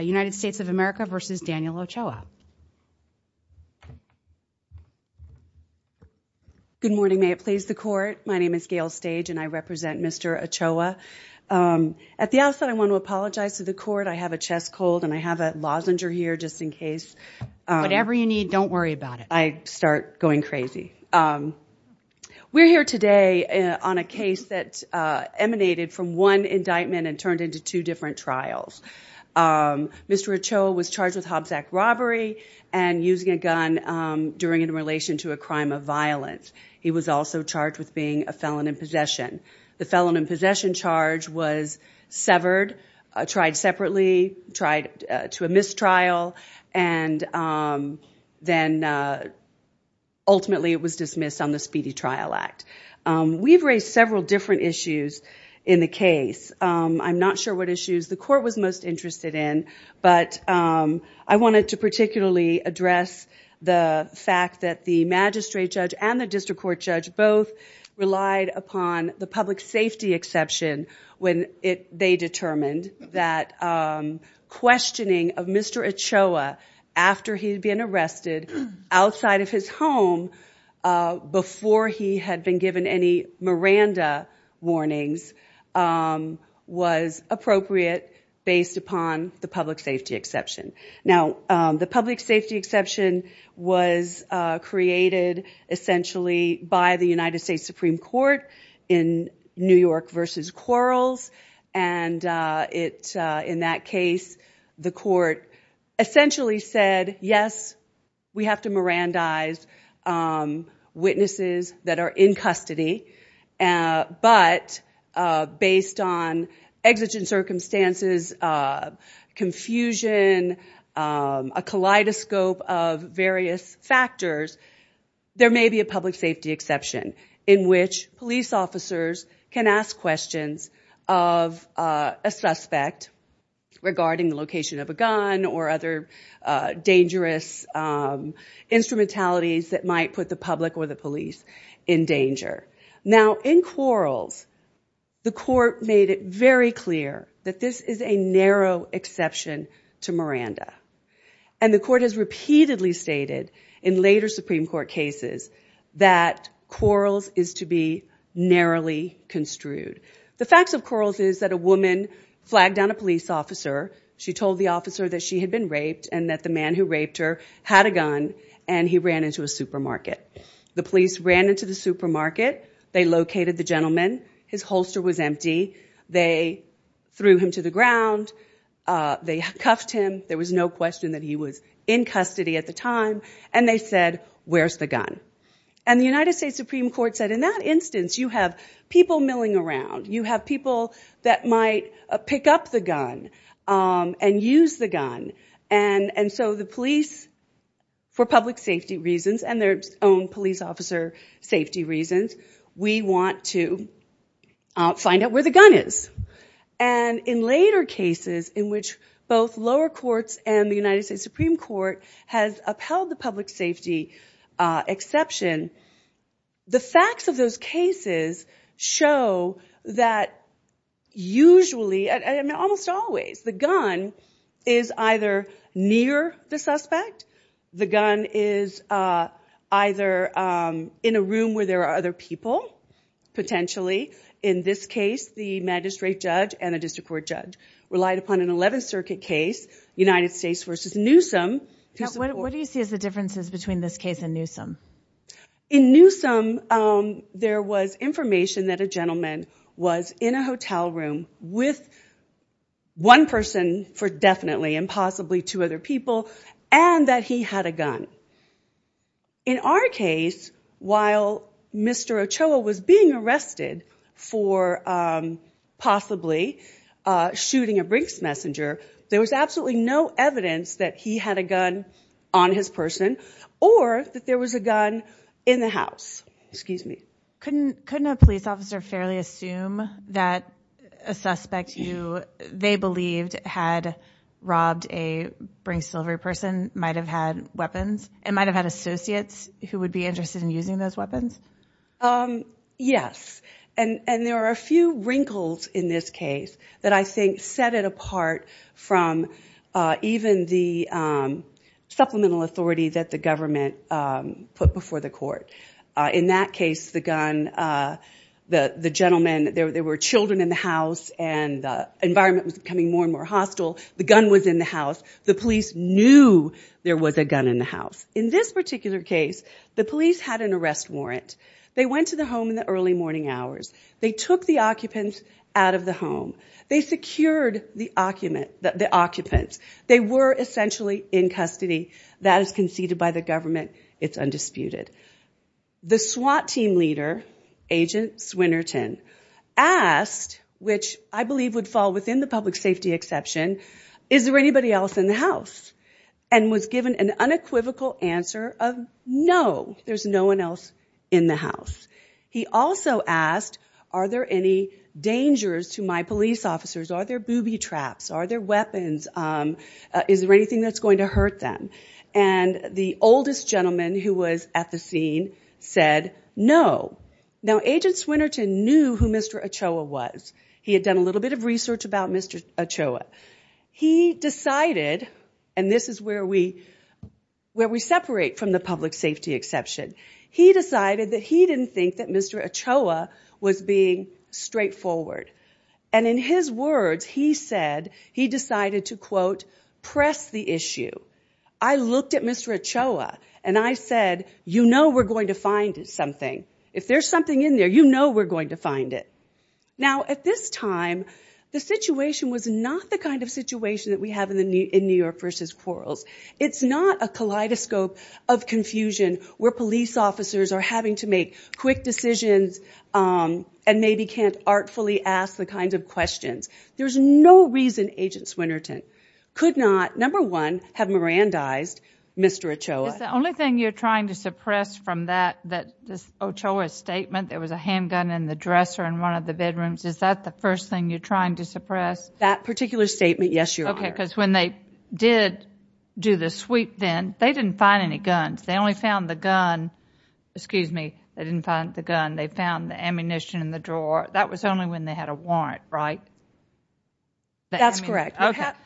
United States of America versus Daniel Ochoa. Good morning. May it please the court. My name is Gail Stage, and I represent Mr. Ochoa. At the outset, I want to apologize to the court. I have a chest cold, and I have a lozenger here just in case. Whatever you need, don't worry about it. I start going crazy. We're here today on a case that emanated from one indictment and turned into two different trials. Mr. Ochoa was charged with Hobbs Act robbery and using a gun during in relation to a crime of violence. He was also charged with being a felon in possession. The felon in possession charge was severed, tried separately, tried to a mistrial, and then ultimately it was dismissed on the Speedy Trial Act. We've raised several different issues in the case. I'm not sure what issues the court was most interested in, but I wanted to particularly address the fact that the magistrate judge and the district court judge both relied upon the public safety exception when they determined that questioning of Mr. Ochoa after he'd been arrested outside of his home before he had been given any Miranda warnings was appropriate based upon the public safety exception. Now, the public safety exception was created essentially by the United States Supreme Court in New York versus Quarles. And in that case, the court essentially said, yes, we have to Mirandize witnesses that are in custody. But based on exigent circumstances, confusion, a kaleidoscope of various factors, there may be a public safety exception in which police officers can ask questions of a suspect regarding the location of a gun or other dangerous instrumentalities that might put the public or the police in danger. Now, in Quarles, the court made it very clear that this is a narrow exception to Miranda. And the court has repeatedly stated in later Supreme Court cases that Quarles is to be narrowly construed. The facts of Quarles is that a woman flagged down a police officer. She told the officer that she had been raped and that the man who raped her had a gun and he ran into a supermarket. The police ran into the supermarket. They located the gentleman. His holster was empty. They threw him to the ground. They cuffed him. There was no question that he was in custody at the time. And they said, where's the gun? And the United States Supreme Court said, in that instance, you have people milling around. You have people that might pick up the gun and use the gun. And so the police, for public safety reasons and their own police officer safety reasons, we want to find out where the gun is. And in later cases in which both lower courts and the United States Supreme Court has upheld the public safety exception, the facts of those cases show that usually, almost always, the gun is either near the suspect. The gun is either in a room where there are other people, potentially. In this case, the magistrate judge and a district court judge relied upon an 11th Circuit case, United States versus Newsom. What do you see as the differences between this case and Newsom? In Newsom, there was information that a gentleman was in a hotel room with one person for definitely and possibly two other people and that he had a gun. In our case, while Mr. Ochoa was being arrested for possibly shooting a Brinks messenger, there was absolutely no evidence that he had a gun on his person or that there was a gun in the house. Excuse me. Couldn't a police officer fairly assume that a suspect they believed had robbed a Brinks delivery person might have had weapons and might have had associates who would be interested in using those weapons? Yes. And there are a few wrinkles in this case that I think set it apart from even the supplemental authority that the government put before the court. In that case, the gun, the gentleman, there were children in the house, and the environment was becoming more and more hostile. The gun was in the house. The police knew there was a gun in the house. In this particular case, the police had an arrest warrant. They went to the home in the early morning hours. They took the occupants out of the home. They secured the occupant. They were essentially in custody. That is conceded by the government. It's undisputed. The SWAT team leader, Agent Swinnerton, asked, which I believe would fall within the public safety exception, is there anybody else in the house? And was given an unequivocal answer of no. There's no one else in the house. He also asked, are there any dangers to my police officers? Are there booby traps? Are there weapons? Is there anything that's going to hurt them? And the oldest gentleman who was at the scene said no. Now, Agent Swinnerton knew who Mr. Ochoa was. He had done a little bit of research about Mr. Ochoa. He decided, and this is where we separate from the public safety exception, he decided that he didn't think that Mr. Ochoa was being straightforward. And in his words, he said he decided to, quote, press the issue. I looked at Mr. Ochoa, and I said, you know we're going to find something. If there's something in there, you know we're going to find it. Now, at this time, the situation was not the kind of situation that we have in New York versus Quarles. It's not a kaleidoscope of confusion where police officers are having to make quick decisions and maybe can't artfully ask the kinds of questions. There's no reason Agent Swinnerton could not, number one, have Mirandized Mr. Ochoa. Is the only thing you're trying to suppress from that Ochoa statement, there was a handgun in the dresser in one of the bedrooms, is that the first thing you're trying to suppress? That particular statement, yes, Your Honor. OK, because when they did do the sweep then, they didn't find any guns. They only found the gun, excuse me, they didn't find the gun. They found the ammunition in the drawer. That was only when they had a warrant, right? That's correct.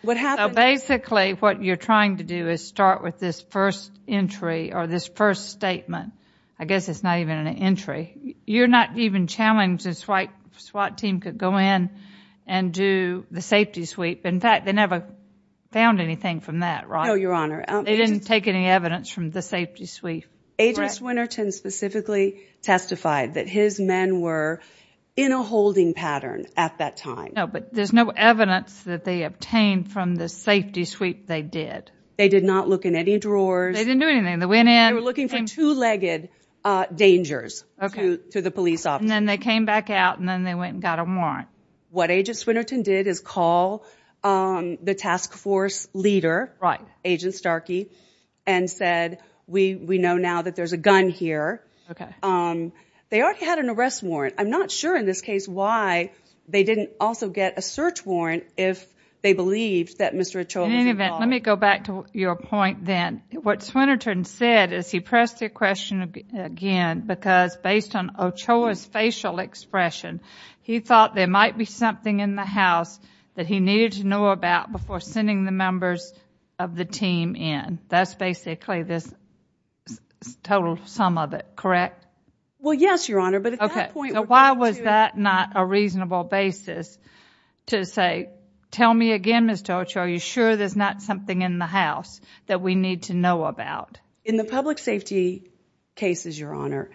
What happened? Basically, what you're trying to do is start with this first entry or this first statement. I guess it's not even an entry. You're not even challenging the SWAT team could go in and do the safety sweep. In fact, they never found anything from that, right? No, Your Honor. They didn't take any evidence from the safety sweep. Agent Swinnerton specifically testified that his men were in a holding pattern at that time. No, but there's no evidence that they obtained from the safety sweep they did. They did not look in any drawers. They didn't do anything. They went in. They were looking for two-legged dangers to the police officer. And then they came back out, and then they went and got a warrant. What Agent Swinnerton did is call the task force leader, Agent Starkey, and said, we know now that there's a gun here. They already had an arrest warrant. I'm not sure in this case why they didn't also get a search warrant if they believed that Mr. Ochoa was involved. In any event, let me go back to your point then. What Swinnerton said is he pressed the question again because based on Ochoa's facial expression, he thought there might be something in the house that he needed to know about before sending the members of the team in. That's basically this total sum of it, correct? Well, yes, Your Honor. But at that point, we're back to it. OK, so why was that not a reasonable basis to say, tell me again, Ms. Ochoa, are you sure there's not something in the house that we need to know about? In the public safety cases, Your Honor,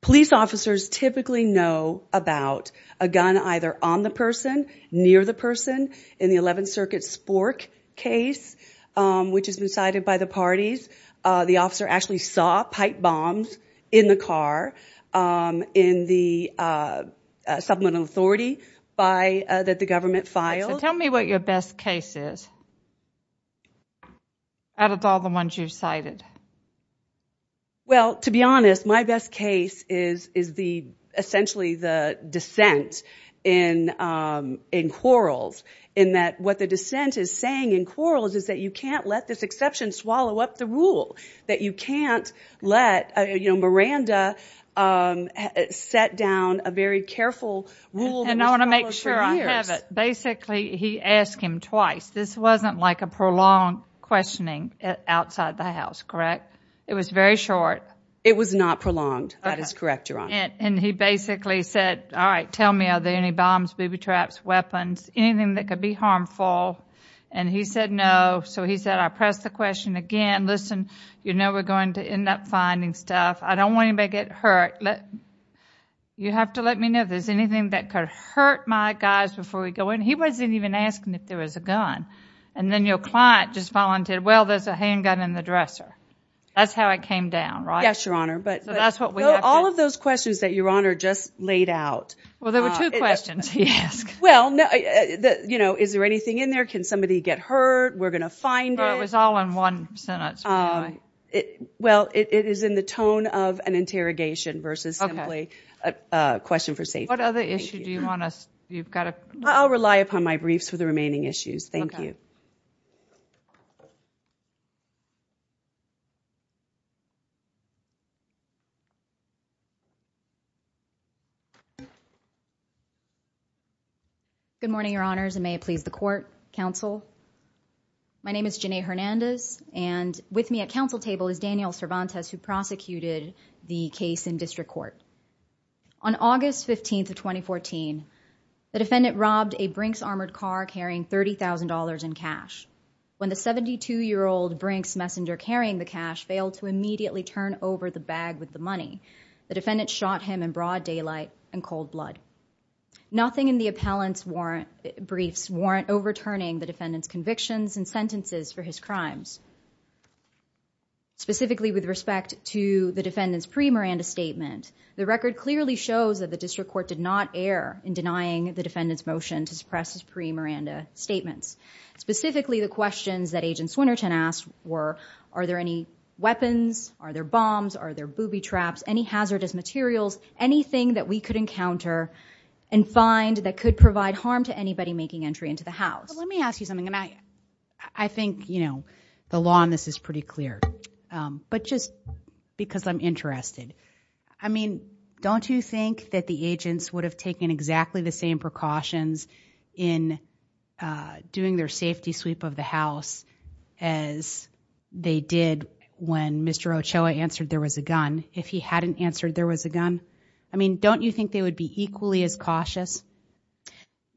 police officers typically know about a gun either on the person, near the person. In the 11th Circuit Spork case, which has been cited by the parties, the officer actually saw pipe bombs in the car in the supplemental authority that the government filed. So tell me what your best case is out of all the ones you've cited. Well, to be honest, my best case is essentially the dissent in Quarles in that what the dissent is saying in Quarles is that you can't let this exception swallow up the rule, that you can't let Miranda set down a very careful rule that was followed for years. And I want to make sure I have it. Basically, he asked him twice. This wasn't like a prolonged questioning outside the house. Correct? It was very short. It was not prolonged. That is correct, Your Honor. And he basically said, all right, tell me, are there any bombs, booby traps, weapons, anything that could be harmful? And he said, no. So he said, I pressed the question again. Listen, you know we're going to end up finding stuff. I don't want anybody to get hurt. You have to let me know if there's anything that could hurt my guys before we go in. He wasn't even asking if there was a gun. And then your client just volunteered, well, there's a handgun in the dresser. That's how it came down, right? Yes, Your Honor. So that's what we have to do. All of those questions that Your Honor just laid out. Well, there were two questions he asked. Well, is there anything in there? Can somebody get hurt? We're going to find it. Well, it was all in one sentence, by the way. Well, it is in the tone of an interrogation versus simply a question for safety. What other issue do you want us, you've got to? I'll rely upon my briefs for the remaining issues. Thank you. Good morning, Your Honors, and may it please the court, counsel. My name is Janae Hernandez, and with me at counsel table is Daniel Cervantes, who prosecuted the case in district court. On August 15th of 2014, the defendant robbed a Brinks armored car carrying $30,000 in cash. When the 72-year-old Brinks messenger carrying the cash failed to immediately turn over the bag with the money, the defendant shot him in broad daylight and cold blood. Nothing in the appellant's briefs warrant overturning the defendant's convictions and sentences for his crimes. Specifically with respect to the defendant's pre-Miranda statement, the record clearly shows that the district court did not err in denying the defendant's motion to suppress his pre-Miranda statements. Specifically, the questions that Agent Swinerton asked were, are there any weapons? Are there bombs? Are there booby traps? Any hazardous materials? Anything that we could encounter and find that could provide harm to anybody making entry into the house? But let me ask you something, and I think, you know, the law on this is pretty clear. But just because I'm interested, I mean, don't you think that the agents would have taken exactly the same precautions in doing their safety sweep of the house as they did when Mr. Ochoa answered there was a gun if he hadn't answered there was a gun? I mean, don't you think they would be equally as cautious?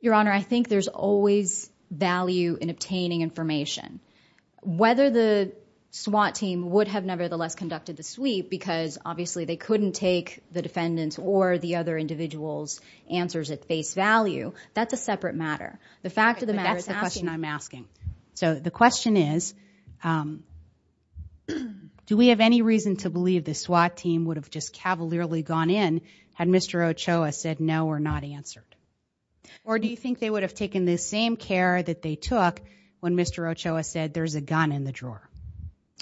Your Honor, I think there's always value in obtaining information. Whether the SWAT team would have nevertheless conducted the sweep, because obviously they couldn't take the defendant's or the other individual's answers at face value. That's a separate matter. The fact of the matter is asking... But that's the question I'm asking. So the question is, do we have any reason to believe the SWAT team would have just cavalierly gone in had Mr. Ochoa said no or not answered? Or do you think they would have taken the same care that they took when Mr. Ochoa said there's a gun in the drawer,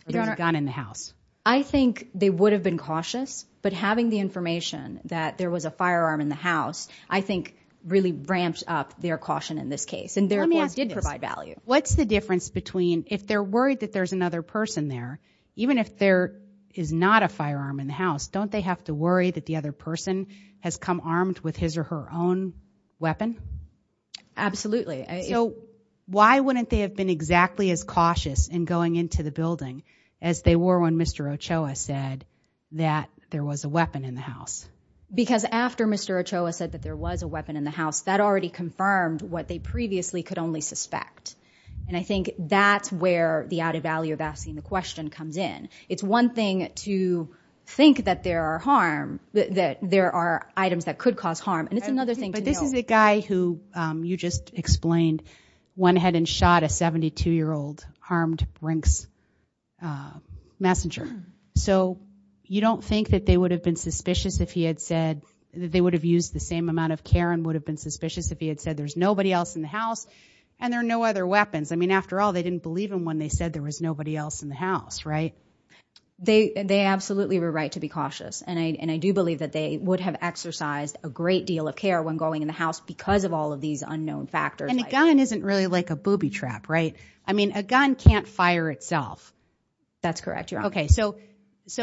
or there's a gun in the house? I think they would have been cautious, but having the information that there was a firearm in the house, I think really ramped up their caution in this case. Let me ask you this. And their warning did provide value. What's the difference between, if they're worried that there's another person there, even if there is not a firearm in the house, don't they have to worry that the other person has come armed with his or her own weapon? Absolutely. So why wouldn't they have been exactly as cautious in going into the building as they were when Mr. Ochoa said that there was a weapon in the house? Because after Mr. Ochoa said that there was a weapon in the house, that already confirmed what they previously could only suspect. And I think that's where the added value of asking the question comes in. It's one thing to think that there are items that could cause harm, and it's another thing to know— Messenger. So you don't think that they would have been suspicious if he had said—that they would have used the same amount of care and would have been suspicious if he had said there's nobody else in the house and there are no other weapons? I mean, after all, they didn't believe him when they said there was nobody else in the house, right? They absolutely were right to be cautious. And I do believe that they would have exercised a great deal of care when going in the house because of all of these unknown factors. And a gun isn't really like a booby trap, right? I mean, a gun can't fire itself. That's correct. You're on. Okay, so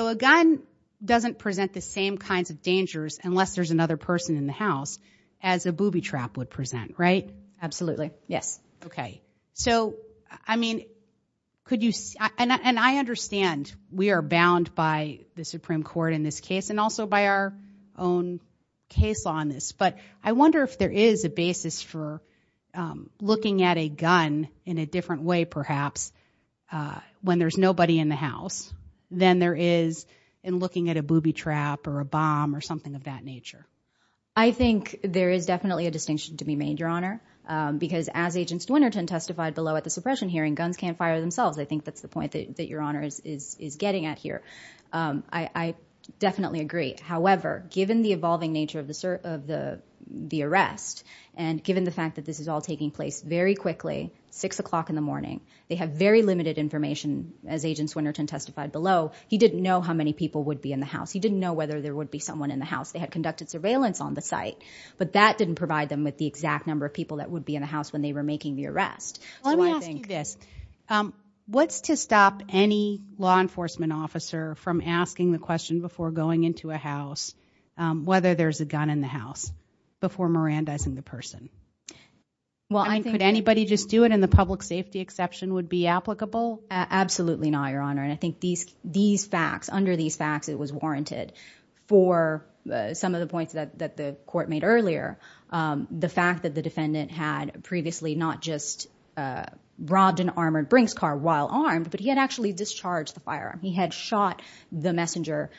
a gun doesn't present the same kinds of dangers, unless there's another person in the house, as a booby trap would present, right? Absolutely. Yes. Okay. So, I mean, could you—and I understand we are bound by the Supreme Court in this case and also by our own case law in this, but I wonder if there is a basis for looking at a gun in a different way, perhaps, when there's nobody in the house than there is in looking at a booby trap or a bomb or something of that nature. I think there is definitely a distinction to be made, Your Honor, because as Agents Winterton testified below at the suppression hearing, guns can't fire themselves. I think that's the point that Your Honor is getting at here. I definitely agree. However, given the evolving nature of the arrest and given the fact that this is all 6 o'clock in the morning, they have very limited information, as Agents Winterton testified below. He didn't know how many people would be in the house. He didn't know whether there would be someone in the house. They had conducted surveillance on the site, but that didn't provide them with the exact number of people that would be in the house when they were making the arrest. So I think— Let me ask you this. What's to stop any law enforcement officer from asking the question before going into a house, whether there's a gun in the house, before Mirandizing the person? Well, I think— Could anybody just do it and the public safety exception would be applicable? Absolutely not, Your Honor, and I think these facts, under these facts, it was warranted. For some of the points that the court made earlier, the fact that the defendant had previously not just robbed an armored Brinks car while armed, but he had actually discharged the firearm. He had shot the messenger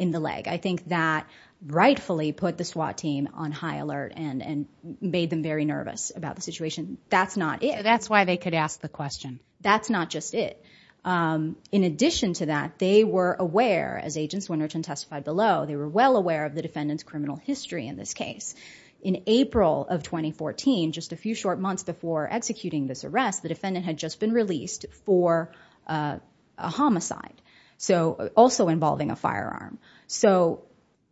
in the leg. I think that rightfully put the SWAT team on high alert and made them very nervous about the situation. That's not it. That's why they could ask the question. That's not just it. In addition to that, they were aware, as Agents Winrich and Testify below, they were well aware of the defendant's criminal history in this case. In April of 2014, just a few short months before executing this arrest, the defendant had just been released for a homicide, so also involving a firearm. So,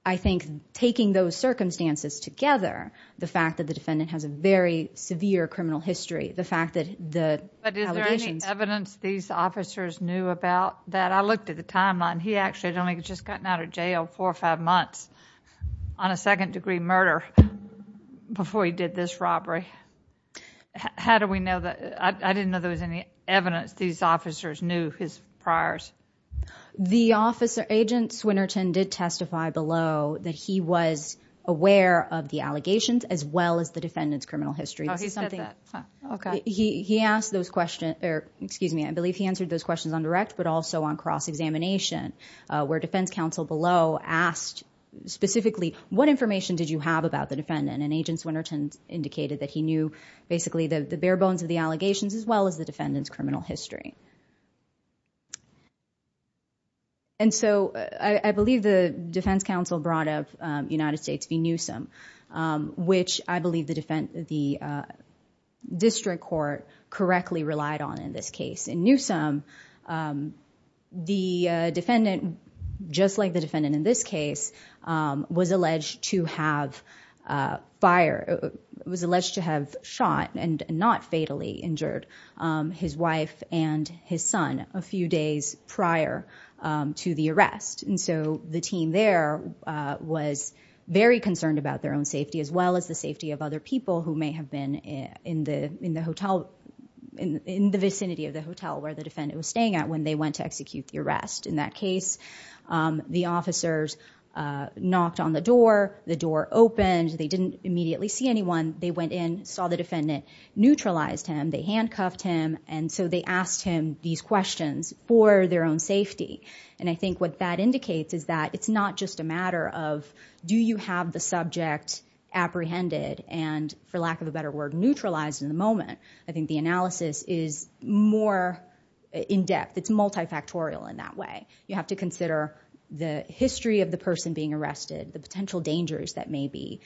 I think taking those circumstances together, the fact that the defendant has a very severe criminal history, the fact that the allegations— But is there any evidence these officers knew about that? I looked at the timeline. He actually had only just gotten out of jail four or five months on a second degree murder before he did this robbery. How do we know that? I didn't know there was any evidence these officers knew his priors. The officer, Agent Swinerton, did testify below that he was aware of the allegations as well as the defendant's criminal history. Oh, he said that. Huh. Okay. He asked those questions—or, excuse me, I believe he answered those questions on direct but also on cross-examination, where defense counsel below asked specifically, what information did you have about the defendant? And Agent Swinerton indicated that he knew, basically, the bare bones of the allegations as well as the defendant's criminal history. And so, I believe the defense counsel brought up United States v. Newsom, which I believe the district court correctly relied on in this case. In Newsom, the defendant, just like the defendant in this case, was alleged to have shot and not fatally injured his wife and his son a few days prior to the arrest. And so, the team there was very concerned about their own safety as well as the safety of other people who may have been in the vicinity of the hotel where the defendant was staying at when they went to execute the arrest. In that case, the officers knocked on the door, the door opened, they didn't immediately see anyone, they went in, saw the defendant, neutralized him, they handcuffed him, and so they asked him these questions for their own safety. And I think what that indicates is that it's not just a matter of, do you have the subject apprehended, and for lack of a better word, neutralized in the moment, I think the analysis is more in-depth, it's multifactorial in that way. You have to consider the history of the person being arrested, the potential dangers that the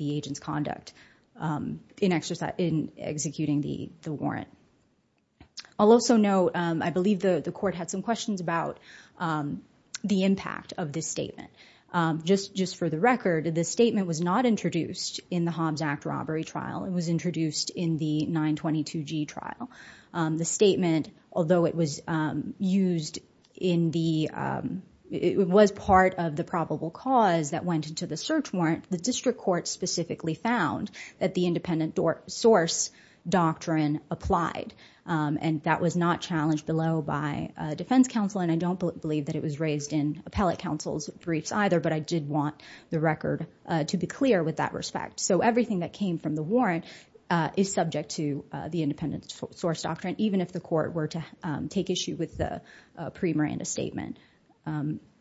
agent's conduct in executing the warrant. I'll also note, I believe the court had some questions about the impact of this statement. Just for the record, this statement was not introduced in the Hobbs Act robbery trial, it was introduced in the 922G trial. The statement, although it was used in the, it was part of the probable cause that went into the search warrant, the district court specifically found that the independent source doctrine applied. And that was not challenged below by defense counsel, and I don't believe that it was raised in appellate counsel's briefs either, but I did want the record to be clear with that respect. So everything that came from the warrant is subject to the independent source doctrine, even if the court were to take issue with the pre-Miranda statement.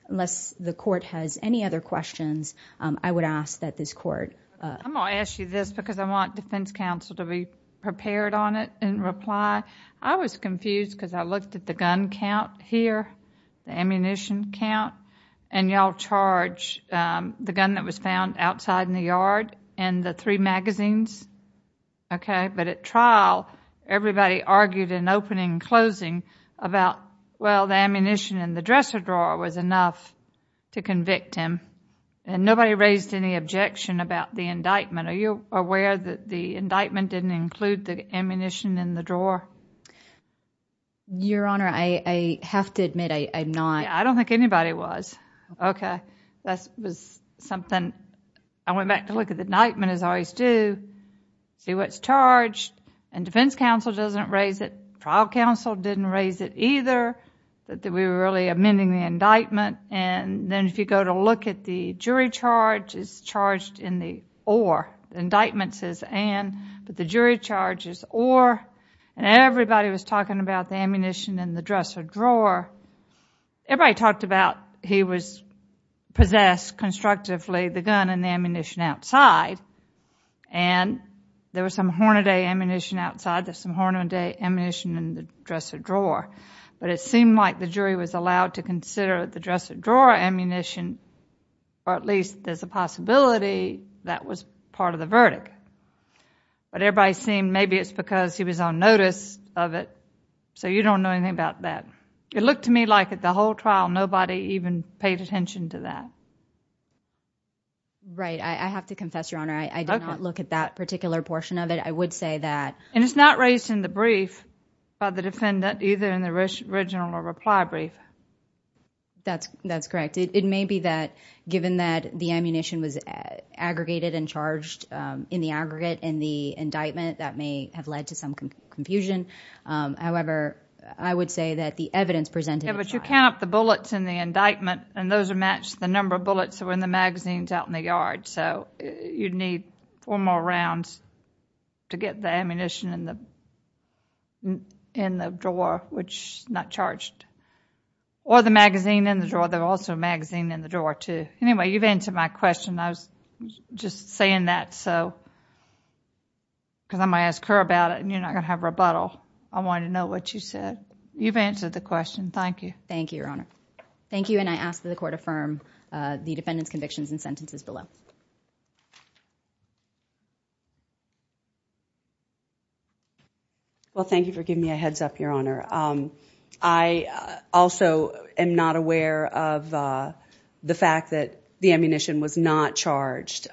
Unless the court has any other questions, I would ask that this court... I'm going to ask you this because I want defense counsel to be prepared on it in reply. I was confused because I looked at the gun count here, the ammunition count, and y'all charge the gun that was found outside in the yard and the three magazines, but at trial everybody argued in opening and closing about, well, the ammunition in the dresser drawer was enough to convict him, and nobody raised any objection about the indictment. Are you aware that the indictment didn't include the ammunition in the drawer? Your Honor, I have to admit I'm not... I don't think anybody was. Okay. That was something... I went back to look at the indictment as I always do, see what's defense counsel doesn't raise it, trial counsel didn't raise it either, that we were really amending the indictment, and then if you go to look at the jury charge, it's charged in the or. The indictment says and, but the jury charge is or, and everybody was talking about the ammunition in the dresser drawer. Everybody talked about he was possessed constructively, the gun and the ammunition outside, and there was some Hornaday ammunition outside, there's some Hornaday ammunition in the dresser drawer, but it seemed like the jury was allowed to consider the dresser drawer ammunition, or at least there's a possibility that was part of the verdict, but everybody seemed maybe it's because he was on notice of it, so you don't know anything about that. It looked to me like at the whole trial nobody even paid attention to that. Right. I have to confess, Your Honor, I did not look at that particular portion of it. I would say that... And it's not raised in the brief by the defendant, either in the original or reply brief. That's correct. It may be that given that the ammunition was aggregated and charged in the aggregate in the indictment, that may have led to some confusion, however, I would say that the evidence presented... Yeah, but you count the bullets in the indictment, and those are matched, the number of bullets are in the magazines out in the yard, so you'd need four more rounds to get the ammunition in the drawer, which is not charged, or the magazine in the drawer, there's also a magazine in the drawer, too. Anyway, you've answered my question. I was just saying that because I'm going to ask her about it, and you're not going to have rebuttal. I wanted to know what you said. You've answered the question. Thank you. Thank you, Your Honor. Thank you, and I ask that the Court affirm the defendant's convictions and sentences below. Well, thank you for giving me a heads up, Your Honor. I also am not aware of the fact that the ammunition was not charged.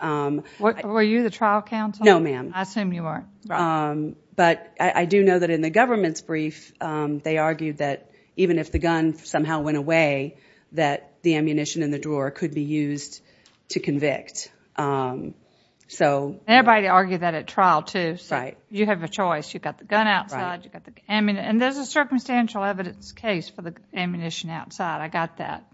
Were you the trial counsel? No, ma'am. I assume you are. Right. But I do know that in the government's brief, they argued that even if the gun somehow went in a way that the ammunition in the drawer could be used to convict. Everybody argued that at trial, too. You have a choice. You've got the gun outside, you've got the ammunition, and there's a circumstantial evidence case for the ammunition outside. I got that,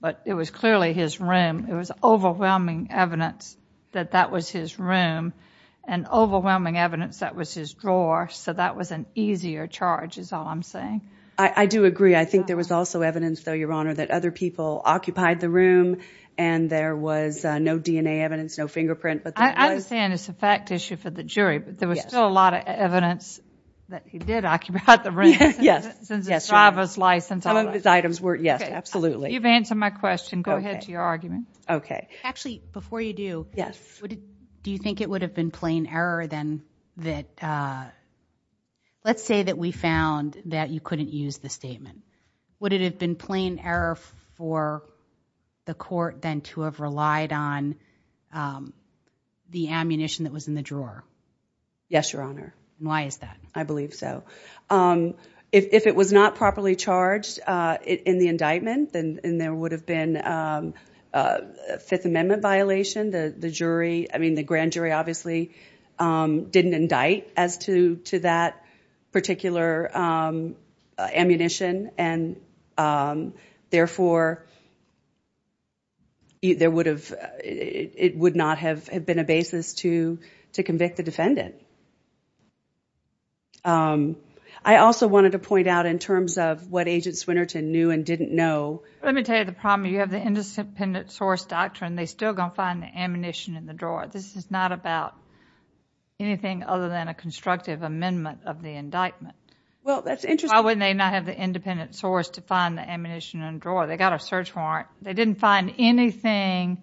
but it was clearly his room. It was overwhelming evidence that that was his room, and overwhelming evidence that was his drawer, so that was an easier charge is all I'm saying. I do agree. I think there was also evidence, though, Your Honor, that other people occupied the room, and there was no DNA evidence, no fingerprint, but there was... I understand it's a fact issue for the jury, but there was still a lot of evidence that he did occupy the room, since his driver's license... Some of his items were, yes, absolutely. You've answered my question. Go ahead to your argument. Okay. Actually, before you do, do you think it would have been plain error, then, that... let's say that we found that you couldn't use the statement. Would it have been plain error for the court, then, to have relied on the ammunition that was in the drawer? Yes, Your Honor. Why is that? I believe so. If it was not properly charged in the indictment, then there would have been a Fifth Amendment violation. The grand jury, obviously, didn't indict as to that particular ammunition, and therefore, it would not have been a basis to convict the defendant. I also wanted to point out, in terms of what Agent Swinnerton knew and didn't know... Let me tell you the problem. If you have the independent source doctrine, they are still going to find the ammunition in the drawer. This is not about anything other than a constructive amendment of the indictment. Well, that's interesting. Why wouldn't they not have the independent source to find the ammunition in the drawer? They got a search warrant. They didn't find anything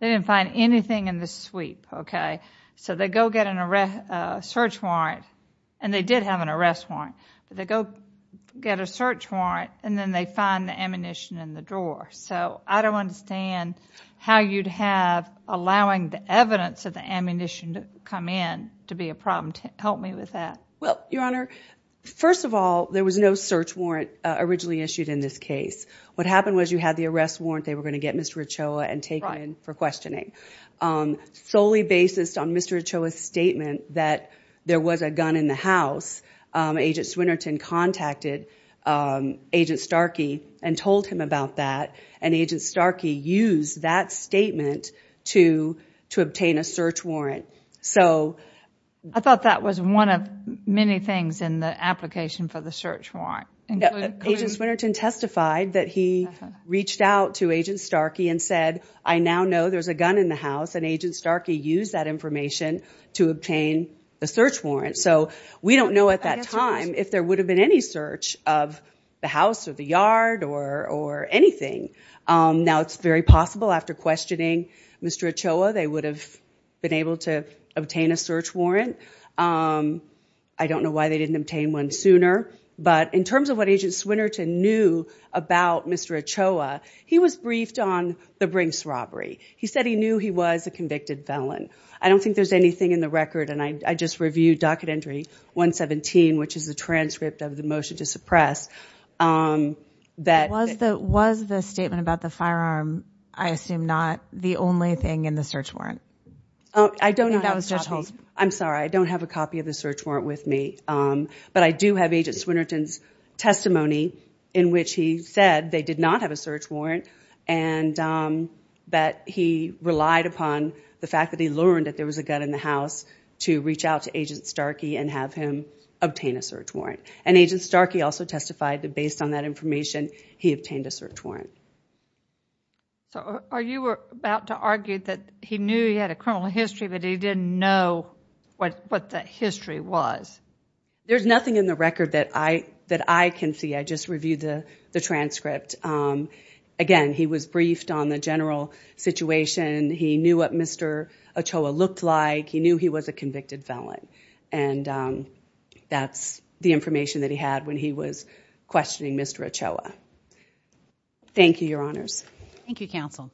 in the sweep, okay? So they go get a search warrant, and they did have an arrest warrant, but they go get a search warrant, and then they find the ammunition in the drawer. So I don't understand how you'd have allowing the evidence of the ammunition to come in to be a problem. Help me with that. Well, Your Honor, first of all, there was no search warrant originally issued in this case. What happened was you had the arrest warrant they were going to get Mr. Ochoa and take him in for questioning. Solely based on Mr. Ochoa's statement that there was a gun in the house, Agent Swinnerton contacted Agent Starkey and told him about that, and Agent Starkey used that statement to obtain a search warrant. I thought that was one of many things in the application for the search warrant. Agent Swinnerton testified that he reached out to Agent Starkey and said, I now know there's a gun in the house, and Agent Starkey used that information to obtain a search warrant. So we don't know at that time if there would have been any search of the house or the yard or anything. Now it's very possible after questioning Mr. Ochoa they would have been able to obtain a search warrant. I don't know why they didn't obtain one sooner. But in terms of what Agent Swinnerton knew about Mr. Ochoa, he was briefed on the Brinks robbery. He said he knew he was a convicted felon. I don't think there's anything in the record, and I just reviewed Docket Entry 117, which is the transcript of the motion to suppress. Was the statement about the firearm, I assume, not the only thing in the search warrant? I'm sorry. I don't have a copy of the search warrant with me. But I do have Agent Swinnerton's testimony in which he said they did not have a search warrant, but he relied upon the fact that he learned that there was a gun in the house to reach out to Agent Starkey and have him obtain a search warrant. And Agent Starkey also testified that based on that information, he obtained a search warrant. So are you about to argue that he knew he had a criminal history, but he didn't know what the history was? There's nothing in the record that I can see. I just reviewed the transcript. Again, he was briefed on the general situation. He knew what Mr. Ochoa looked like. He knew he was a convicted felon. And that's the information that he had when he was questioning Mr. Ochoa. Thank you, Your Honors. Thank you, Counsel.